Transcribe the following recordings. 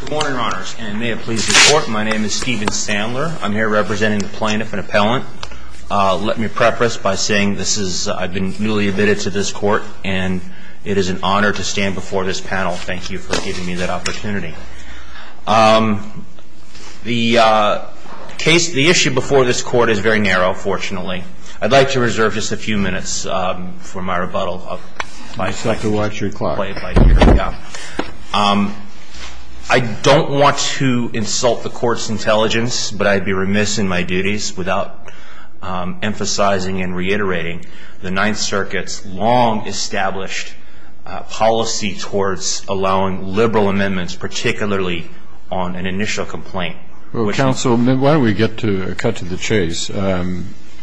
Good morning, Your Honors. And may it please the Court, my name is Stephen Sandler. I'm here representing the plaintiff and appellant. Let me preface by saying I've been newly admitted to this court. And it is an honor to stand before this panel. Thank you for giving me that opportunity. The issue before this court is very narrow, fortunately. I'd like to reserve just a few minutes for my rebuttal. I don't want to insult the Court's intelligence, but I'd be remiss in my duties without emphasizing and reiterating the Ninth Circuit's long-established policy towards allowing liberal amendments, particularly on an initial complaint. Counsel, why don't we cut to the chase.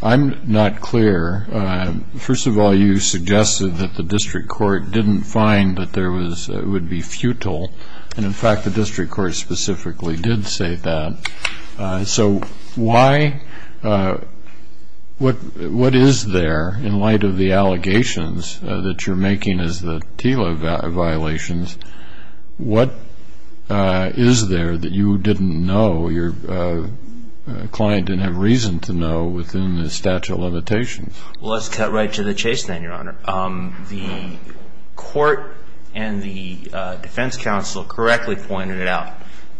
I'm not clear. First of all, you suggested that the district court didn't find that it would be futile. And in fact, the district court specifically did say that. So what is there in light of the allegations that you're making as the TILA violations? What is there that you didn't know, your client didn't have reason to know within the statute of limitations? Well, let's cut right to the chase then, Your Honor. The court and the defense counsel correctly pointed it out.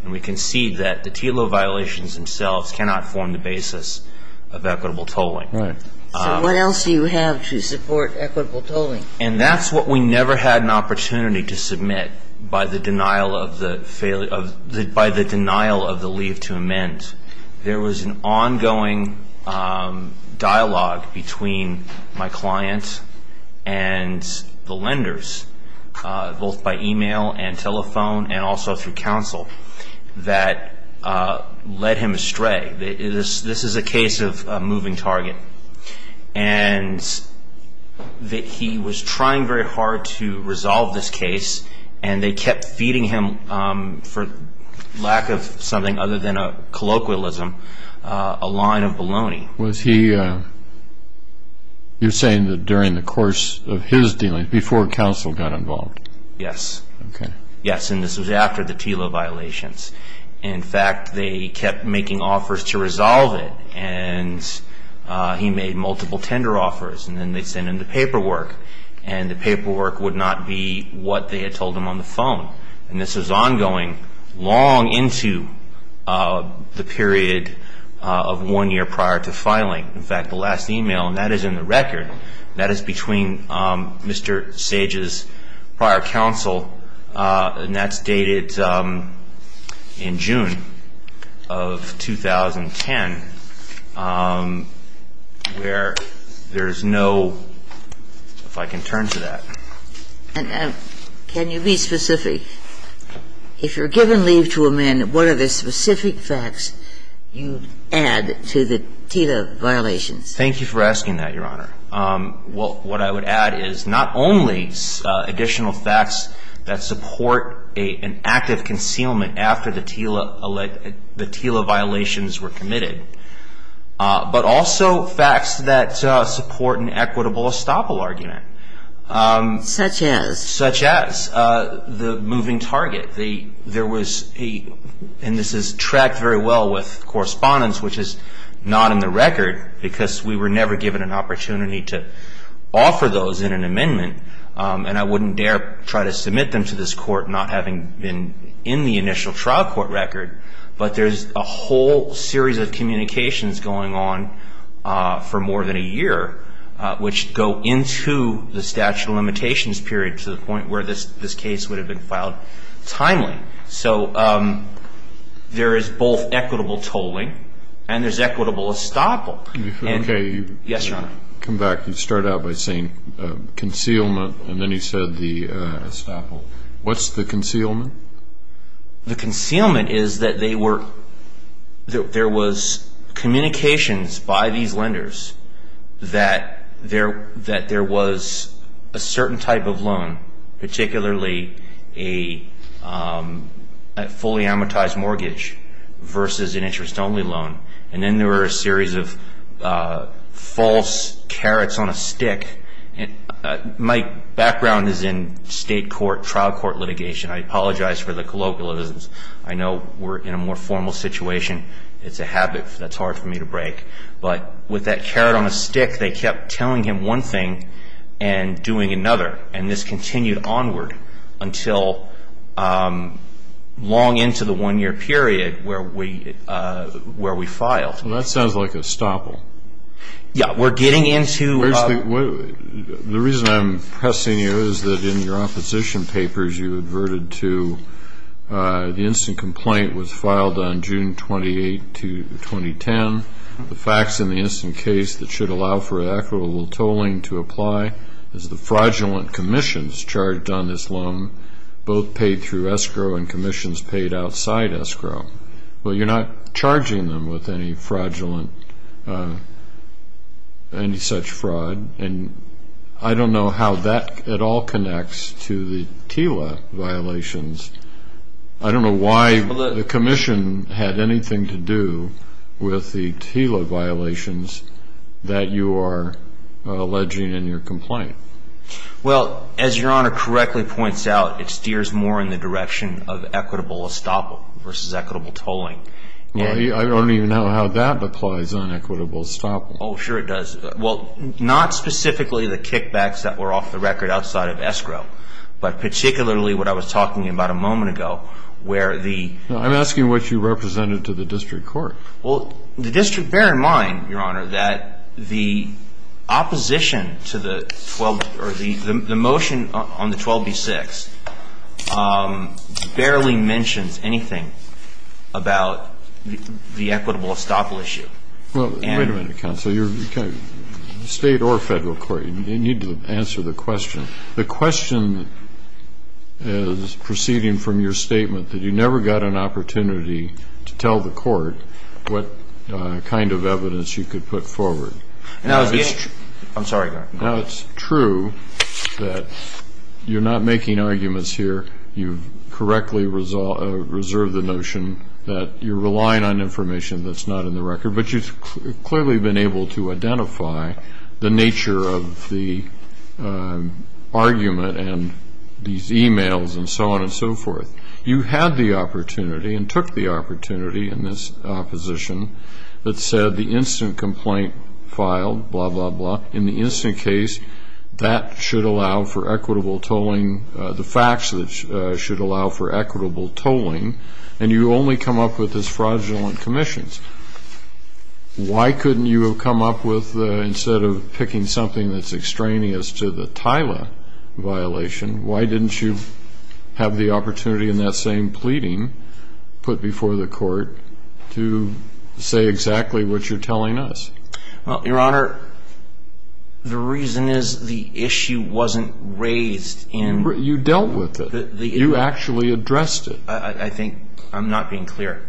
And we concede that the TILA violations themselves cannot form the basis of equitable tolling. Right. So what else do you have to support equitable tolling? And that's what we never had an opportunity to submit by the denial of the leave to amend. There was an ongoing dialogue between my client and the lenders, both by email and telephone and also through counsel, that led him astray. This is a case of a moving target. And he was trying very hard to resolve this case. And they kept feeding him, for lack of something other than a colloquialism, a line of baloney. Was he, you're saying that during the course of his dealings, before counsel got involved? Yes. Yes, and this was after the TILA violations. In fact, they kept making offers to resolve it. And he made multiple tender offers. And then they sent him the paperwork. And the paperwork would not be what they had told him on the phone. And this was ongoing, long into the period of one year prior to filing. In fact, the last email, and that is in the record, that is between Mr. Sage's prior counsel. And that's dated in June of 2010, where there is no, if I can turn to that. And can you be specific? If you're given leave to amend, what are the specific facts you add to the TILA violations? Thank you for asking that, Your Honor. Well, what I would add is not only additional facts that support an active concealment after the TILA violations were committed, but also facts that support an equitable estoppel argument. Such as? Such as the moving target. And this is tracked very well with correspondence, which is not in the record, because we were never given an opportunity to offer those in an amendment. And I wouldn't dare try to submit them to this court, not having been in the initial trial court record. But there's a whole series of communications going on for more than a year, which go into the statute of limitations period to the point where this case would have been filed timely. So there is both equitable tolling, and there's equitable estoppel. Yes, Your Honor. Come back. You start out by saying concealment, and then you said the estoppel. What's the concealment? The concealment is that there was communications by these lenders that there was a certain type of loan, particularly a fully amortized mortgage versus an interest only loan. And then there were a series of false carrots on a stick. My background is in state court, trial court litigation. I apologize for the colloquialisms. I know we're in a more formal situation. It's a habit that's hard for me to break. But with that carrot on a stick, they kept telling him one thing and doing another. And this continued onward until long into the one year period where we filed. Well, that sounds like estoppel. Yeah, we're getting into a- The reason I'm pressing you is that in your opposition papers, you adverted to the instant complaint was filed on June 28, 2010. The facts in the instant case that should allow for equitable tolling to apply is the fraudulent commissions charged on this loan, both paid through escrow and commissions paid outside escrow. Well, you're not charging them with any such fraud. And I don't know how that at all connects to the TILA violations. I don't know why the commission had anything to do with the TILA violations that you are alleging in your complaint. Well, as Your Honor correctly points out, it steers more in the direction of equitable estoppel versus equitable tolling. I don't even know how that applies on equitable estoppel. Oh, sure it does. Well, not specifically the kickbacks that were off the record outside of escrow, but particularly what I was talking about a moment ago, where the- I'm asking what you represented to the district court. Well, the district- bear in mind, Your Honor, that the opposition to the 12- or the motion on the 12B6 barely mentions anything about the equitable estoppel issue. Well, wait a minute, counsel. State or federal court, you need to answer the question. The question is proceeding from your statement that you never got an opportunity to tell the court what kind of evidence you could put forward. Now, it's true- I'm sorry, Your Honor. Now, it's true that you're not making arguments here. You correctly reserve the notion that you're relying on information that's not in the record, but you've clearly been able to identify the nature of the argument and these emails and so on and so forth. You had the opportunity and took the opportunity in this opposition that said the instant complaint filed, blah, blah, blah. In the instant case, that should allow for equitable tolling- the facts should allow for equitable tolling, and you only come up with this fraudulent commissions. Why couldn't you have come up with, instead of picking something that's extraneous to the Tyler violation, why didn't you have the opportunity in that same pleading put before the court to say exactly what you're telling us? Well, Your Honor, the reason is the issue wasn't raised in- You dealt with it. You actually addressed it. I think I'm not being clear.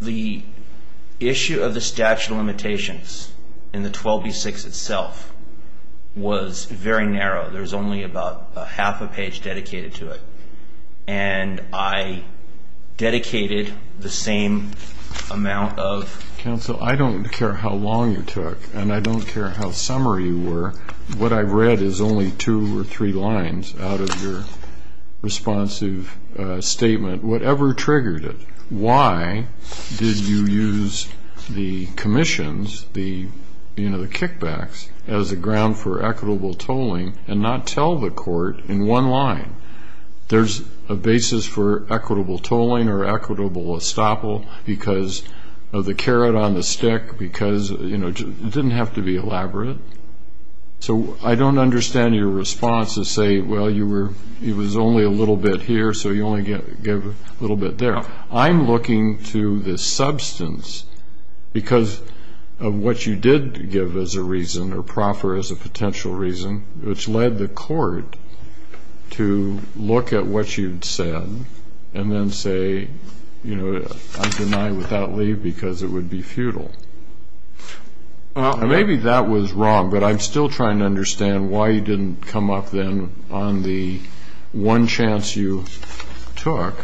The issue of the statute of limitations in the 12B6 itself was very narrow. There was only about half a page dedicated to it, and I dedicated the same amount of- Counsel, I don't care how long you took, and I don't care how summary you were. What I've read is only two or three lines out of your responsive statement, whatever triggered it. Why did you use the commissions, the kickbacks, as a ground for equitable tolling and not tell the court in one line? There's a basis for equitable tolling or equitable estoppel because of the carrot on the stick, because it didn't have to be elaborate. So I don't understand your response to say, well, it was only a little bit here, so you only gave a little bit there. I'm looking to the substance because of what you did give as a reason or proffer as a potential reason, which led the court to look at what you'd said and then say, I deny without leave because it would be futile. Maybe that was wrong, but I'm still trying to understand why you didn't come up, then, on the one chance you took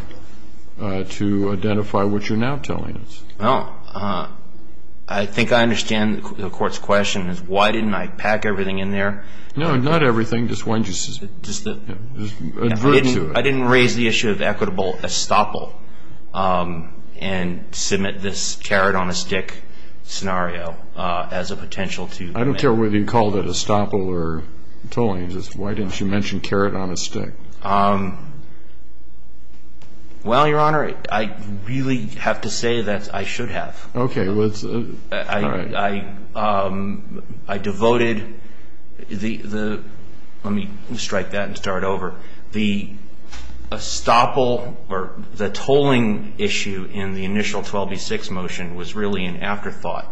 to identify what you're now telling us. I think I understand the court's question is, why didn't I pack everything in there? No, not everything. Just one just adverted to it. I didn't raise the issue of equitable estoppel and submit this carrot on a stick scenario as a potential to make. I don't care whether you called it estoppel or tolling. Why didn't you mention carrot on a stick? Well, Your Honor, I really have to say that I should have. OK, well, that's all right. I devoted the, let me strike that and start over, the estoppel or the tolling issue in the initial 12B6 motion was really an afterthought.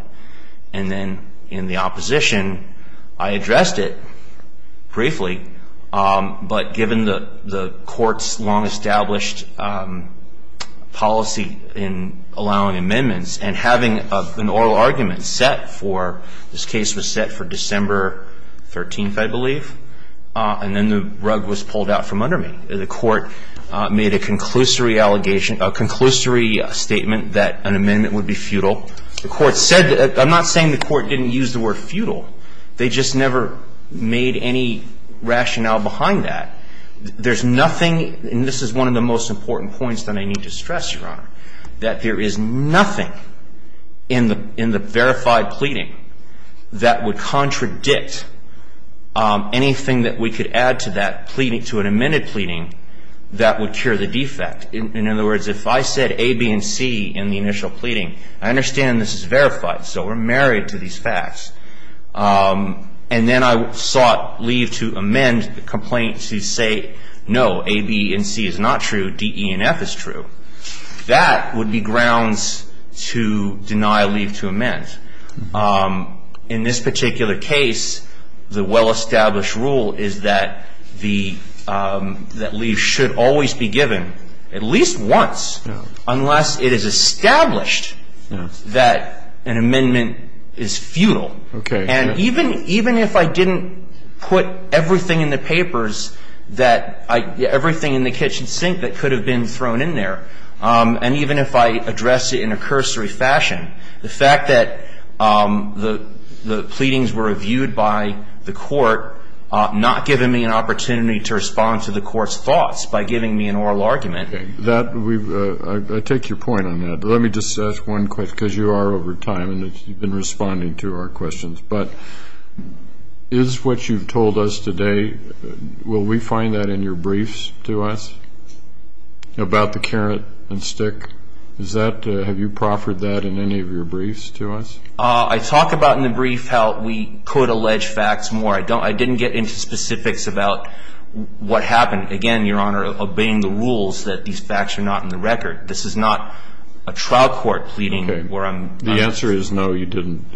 And then in the opposition, I addressed it briefly. But given the court's long-established policy in allowing amendments and having an oral argument set for, this case was set for December 13th, I believe. And then the rug was pulled out from under me. The court made a conclusory statement that an amendment would be futile. I'm not saying the court didn't use the word futile. They just never made any rationale behind that. There's nothing, and this is one of the most important points that I need to stress, Your Honor, that there is nothing in the verified pleading that would contradict anything that we could add to an amended pleading that would cure the defect. In other words, if I said A, B, and C in the initial pleading, I understand this is verified. So we're married to these facts. And then I sought leave to amend the complaint to say, no, A, B, and C is not true. D, E, and F is true. That would be grounds to deny leave to amend. In this particular case, the well-established rule is that leave should always be given at least once, unless it is established that an amendment is futile. And even if I didn't put everything in the papers, everything in the kitchen sink that could have been thrown in there, and even if I addressed it in a cursory fashion, the fact that the pleadings were reviewed by the court, not giving me an opportunity to respond to the court's thoughts by giving me an oral argument. I take your point on that. Let me just ask one question, because you are over time, and you've been responding to our questions. But is what you've told us today, will we find that in your briefs to us about the carrot and stick? Have you proffered that in any of your briefs to us? I talk about in the brief how we could allege facts more. I didn't get into specifics about what happened. Again, Your Honor, obeying the rules that these facts are not in the record. This is not a trial court pleading where I'm not. The answer is no, you didn't.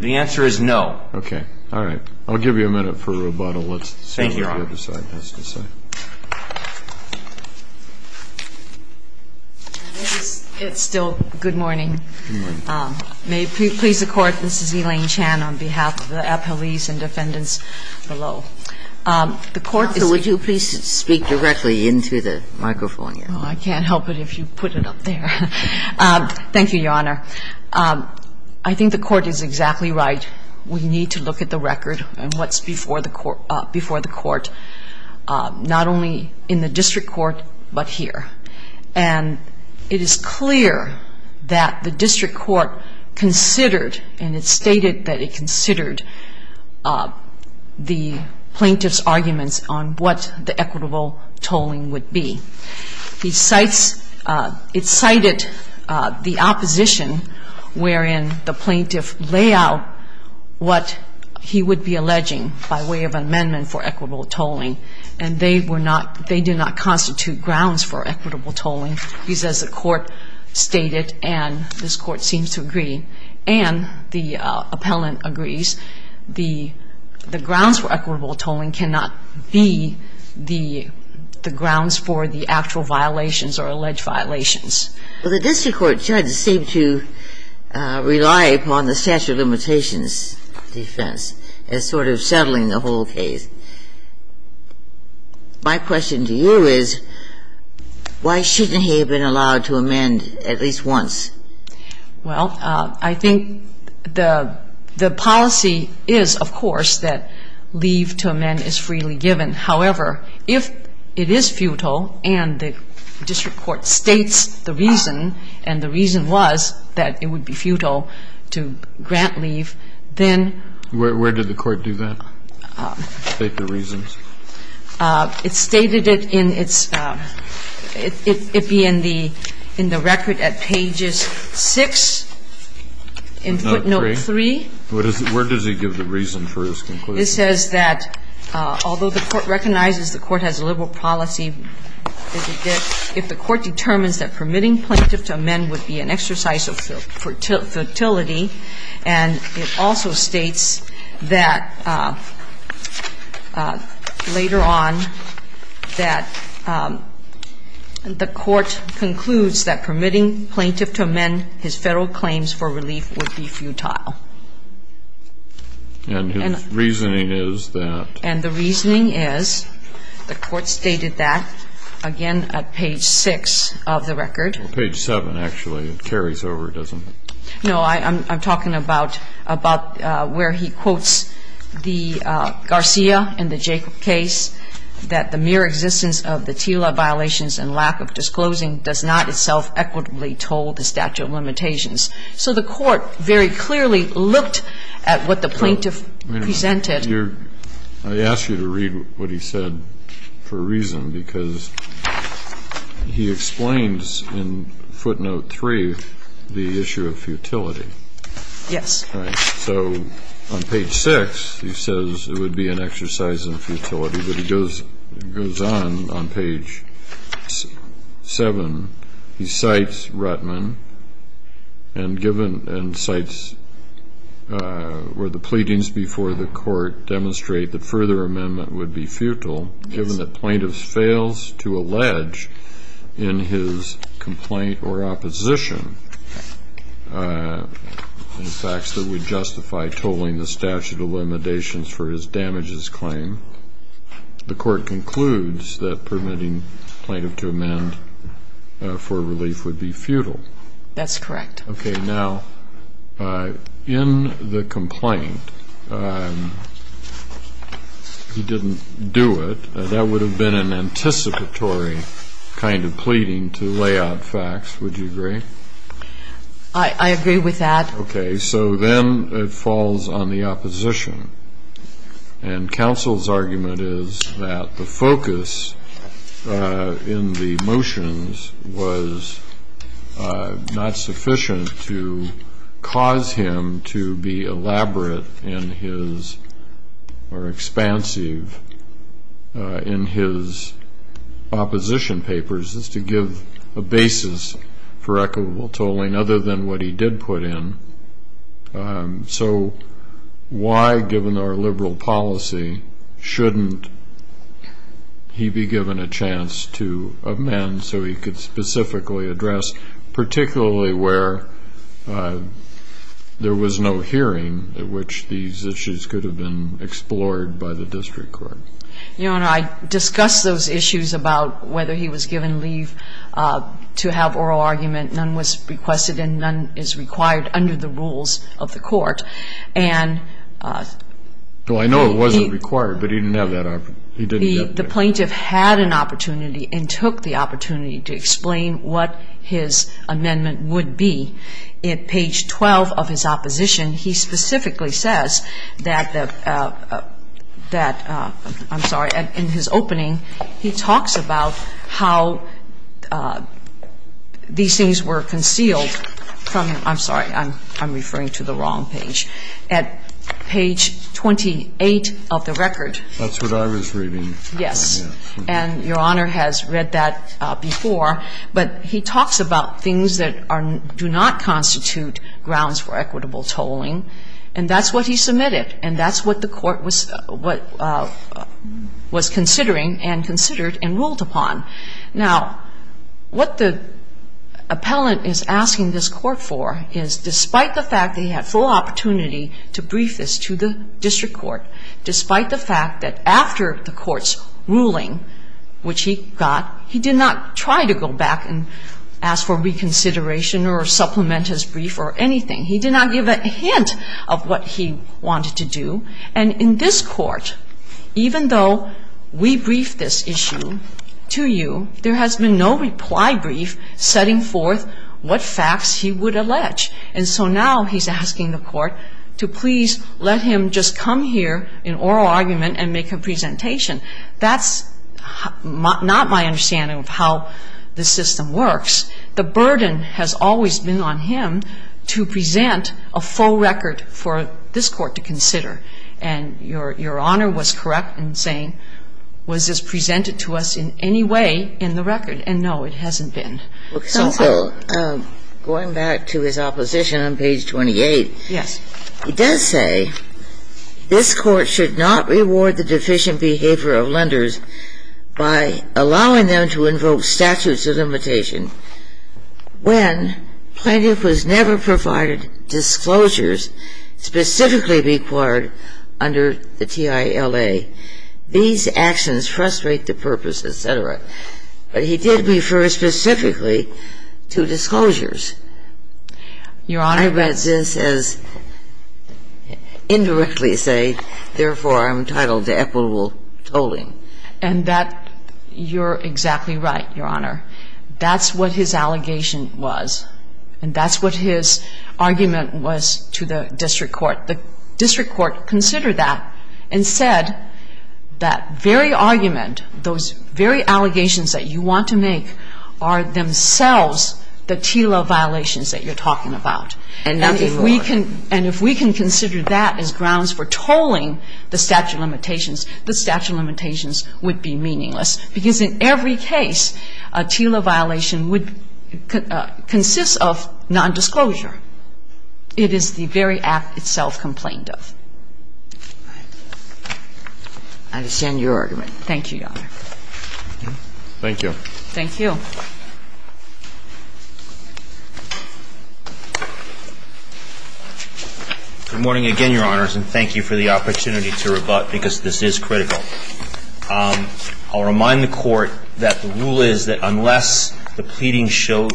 The answer is no. OK. All right. I'll give you a minute for rebuttal. Let's see what the other side has to say. Thank you, Your Honor. It's still good morning. May it please the Court, this is Elaine Chan on behalf of the appellees and defendants below. The Court is So would you please speak directly into the microphone here? Oh, I can't help it if you put it up there. Thank you, Your Honor. I think the Court is exactly right. We need to look at the record and what's before the Court, not only in the district court, but here. And it is clear that the district court considered, and it stated that it considered, the plaintiff's arguments on what the equitable tolling would be. It cited the opposition, wherein the plaintiff lay out what he would be alleging by way of amendment for equitable tolling. And they do not constitute grounds for equitable tolling. He says the Court stated, and this Court seems to agree, and the appellant agrees, the grounds for equitable tolling cannot be the grounds for the actual violations or alleged violations. Well, the district court judge seemed to rely upon the statute of limitations defense as sort of settling the whole case. My question to you is, why shouldn't he have been allowed to amend at least once? Well, I think the policy is, of course, that leave to amend is freely given. However, if it is futile, and the district court states the reason, and the reason was that it would be futile to grant leave, then. Where did the Court do that, state the reasons? It stated it in its – it'd be in the record at pages 6 in footnote 3. Where does he give the reason for his conclusion? It says that although the Court recognizes the Court has a liberal policy, if the Court determines that permitting plaintiff to amend would be an exercise of futility, and it also states that later on, that the Court concludes that permitting plaintiff to amend his Federal claims for relief would be futile. And his reasoning is that? And the reasoning is, the Court stated that, again, at page 6 of the record. Page 7, actually. It carries over, doesn't it? No, I'm talking about where he quotes the Garcia and the Jacob case, that the mere existence of the TILA violations and lack of disclosing does not itself equitably toll the statute of limitations. So the Court very clearly looked at what the plaintiff presented. I asked you to read what he said for a reason because he explains in footnote 3 the issue of futility. Yes. All right. So on page 6, he says it would be an exercise in futility, but he goes on, on page 7. He cites Ruttman and cites where the pleadings before the Court demonstrate that further amendment would be futile, given that plaintiff fails to allege in his complaint or opposition the facts that would justify tolling the statute of limitations for his damages claim. The Court concludes that permitting plaintiff to amend for relief would be futile. That's correct. Okay. Now, in the complaint, he didn't do it. That would have been an anticipatory kind of pleading to lay out facts. Would you agree? I agree with that. Okay. So then it falls on the opposition. And counsel's argument is that the focus in the motions was not sufficient to cause him to be elaborate in his or expansive in his opposition papers. It's to give a basis for equitable tolling other than what he did put in. So why, given our liberal policy, shouldn't he be given a chance to amend so he could specifically address, particularly where there was no hearing at which these issues could have been explored by the district court? Your Honor, I discussed those issues about whether he was given leave to have oral argument. None was requested and none is required under the rules of the Court. And he didn't have that opportunity. And he did not have the opportunity to explain what his amendment would be. At page 12 of his opposition, he specifically says that the – I'm sorry, in his opening, he talks about how these things were concealed from – I'm sorry, I'm referring to the wrong page. At page 28 of the record. That's what I was reading. Yes. And Your Honor has read that before. But he talks about things that do not constitute grounds for equitable tolling. And that's what he submitted. And that's what the Court was considering and considered and ruled upon. Now, what the appellant is asking this Court for is, despite the fact that he had full opportunity to brief this to the district court, despite the fact that after the Court's ruling, which he got, he did not try to go back and ask for reconsideration or supplement his brief or anything. He did not give a hint of what he wanted to do. And in this Court, even though we briefed this issue to you, there has been no reply brief setting forth what facts he would allege. And so now he's asking the Court to please let him just come here in oral argument and make a presentation. That's not my understanding of how the system works. The burden has always been on him to present a full record for this Court to consider. And Your Honor was correct in saying, was this presented to us in any way in the record? And no, it hasn't been. Well, counsel, going back to his opposition on page 28. Yes. He does say, This Court should not reward the deficient behavior of lenders by allowing them to invoke statutes of limitation when plaintiff was never provided disclosures specifically required under the TILA. These actions frustrate the purpose, et cetera. But he did refer specifically to disclosures. Your Honor. I read this as indirectly say, therefore, I'm entitled to equitable tolling. And that you're exactly right, Your Honor. That's what his allegation was. And that's what his argument was to the district court. The district court considered that and said that very argument, those very allegations that you want to make are themselves the TILA violations that you're talking about. And if we can consider that as grounds for tolling the statute of limitations, the statute of limitations would be meaningless. Because in every case, a TILA violation would consist of nondisclosure. It is the very act itself complained of. I understand your argument. Thank you, Your Honor. Thank you. Thank you. Good morning again, Your Honors. And thank you for the opportunity to rebut, because this is critical. I'll remind the Court that the rule is that unless the pleading show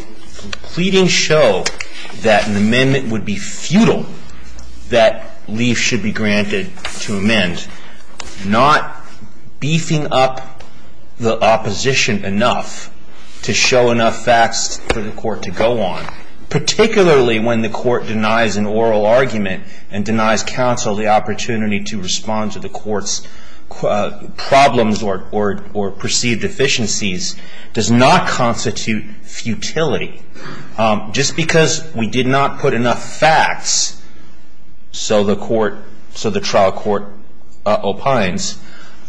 that an amendment would be futile, that leave should be granted to amend. And not beefing up the opposition enough to show enough facts for the Court to go on, particularly when the Court denies an oral argument and denies counsel the opportunity to respond to the Court's problems or perceived deficiencies, does not constitute futility. Just because we did not put enough facts, so the trial court opines,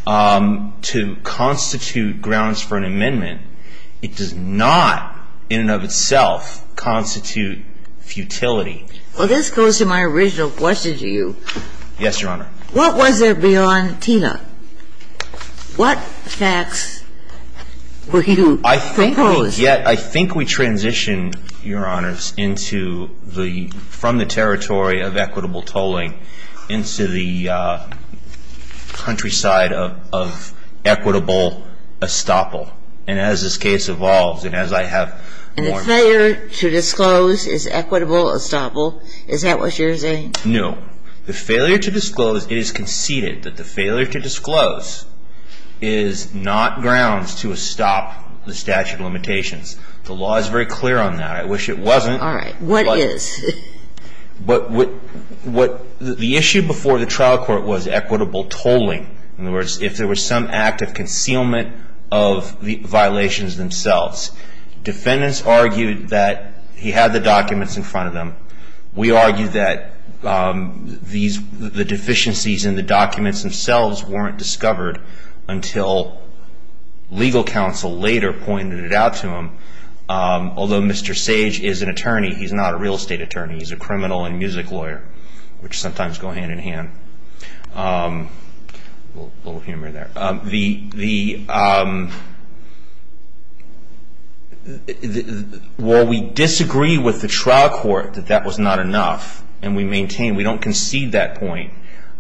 to constitute grounds for an amendment, it does not in and of itself constitute futility. Well, this goes to my original question to you. Yes, Your Honor. What was there beyond TILA? What facts were you proposing? As yet, I think we transitioned, Your Honors, from the territory of equitable tolling into the countryside of equitable estoppel. And as this case evolves and as I have more and more... And the failure to disclose is equitable estoppel? Is that what you're saying? No. The failure to disclose is conceded that the failure to disclose is not grounds to violations. The law is very clear on that. I wish it wasn't. All right. What is? The issue before the trial court was equitable tolling. In other words, if there was some act of concealment of the violations themselves. Defendants argued that he had the documents in front of them. We argued that the deficiencies in the documents themselves weren't discovered until legal counsel later pointed it out to him. Although Mr. Sage is an attorney, he's not a real estate attorney. He's a criminal and music lawyer, which sometimes go hand in hand. A little humor there. While we disagree with the trial court that that was not enough, and we maintain we don't concede that point,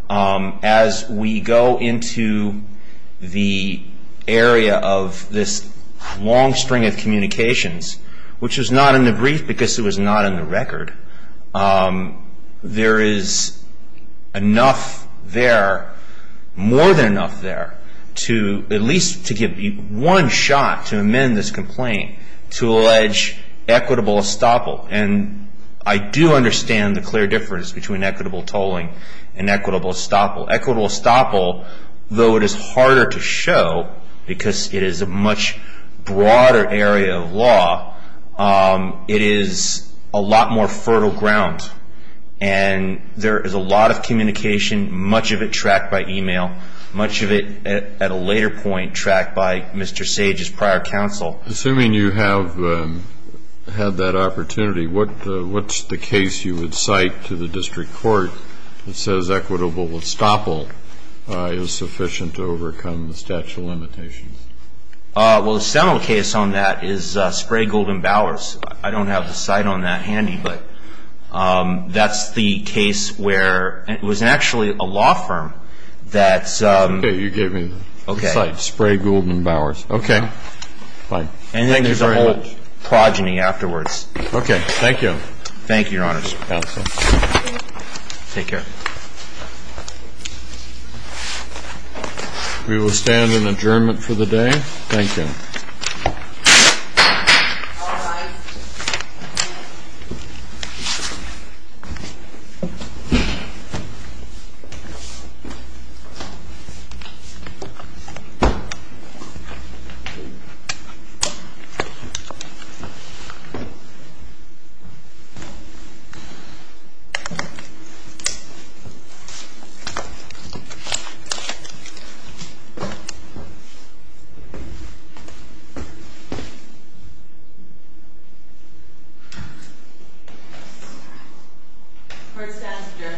as we go into the area of this long string of communications, which was not in the brief because it was not in the record, there is enough there, more than enough there, to at least to give one shot to amend this complaint to allege equitable estoppel. I do understand the clear difference between equitable tolling and equitable estoppel. Equitable estoppel, though it is harder to show because it is a much broader area of law, it is a lot more fertile ground. There is a lot of communication, much of it tracked by email, much of it at a later point tracked by Mr. Sage's prior counsel. Well, assuming you have had that opportunity, what's the case you would cite to the district court that says equitable estoppel is sufficient to overcome the statute of limitations? Well, the seminal case on that is Spray-Golden-Bowers. I don't have the cite on that handy, but that's the case where it was actually a law firm that's ---- You gave me the cite, Spray-Golden-Bowers. Okay. Fine. And then there's a whole progeny afterwards. Okay. Thank you. Thank you, Your Honors. Counsel. Take care. We will stand in adjournment for the day. Thank you. Thank you. Court is adjourned. Thank you.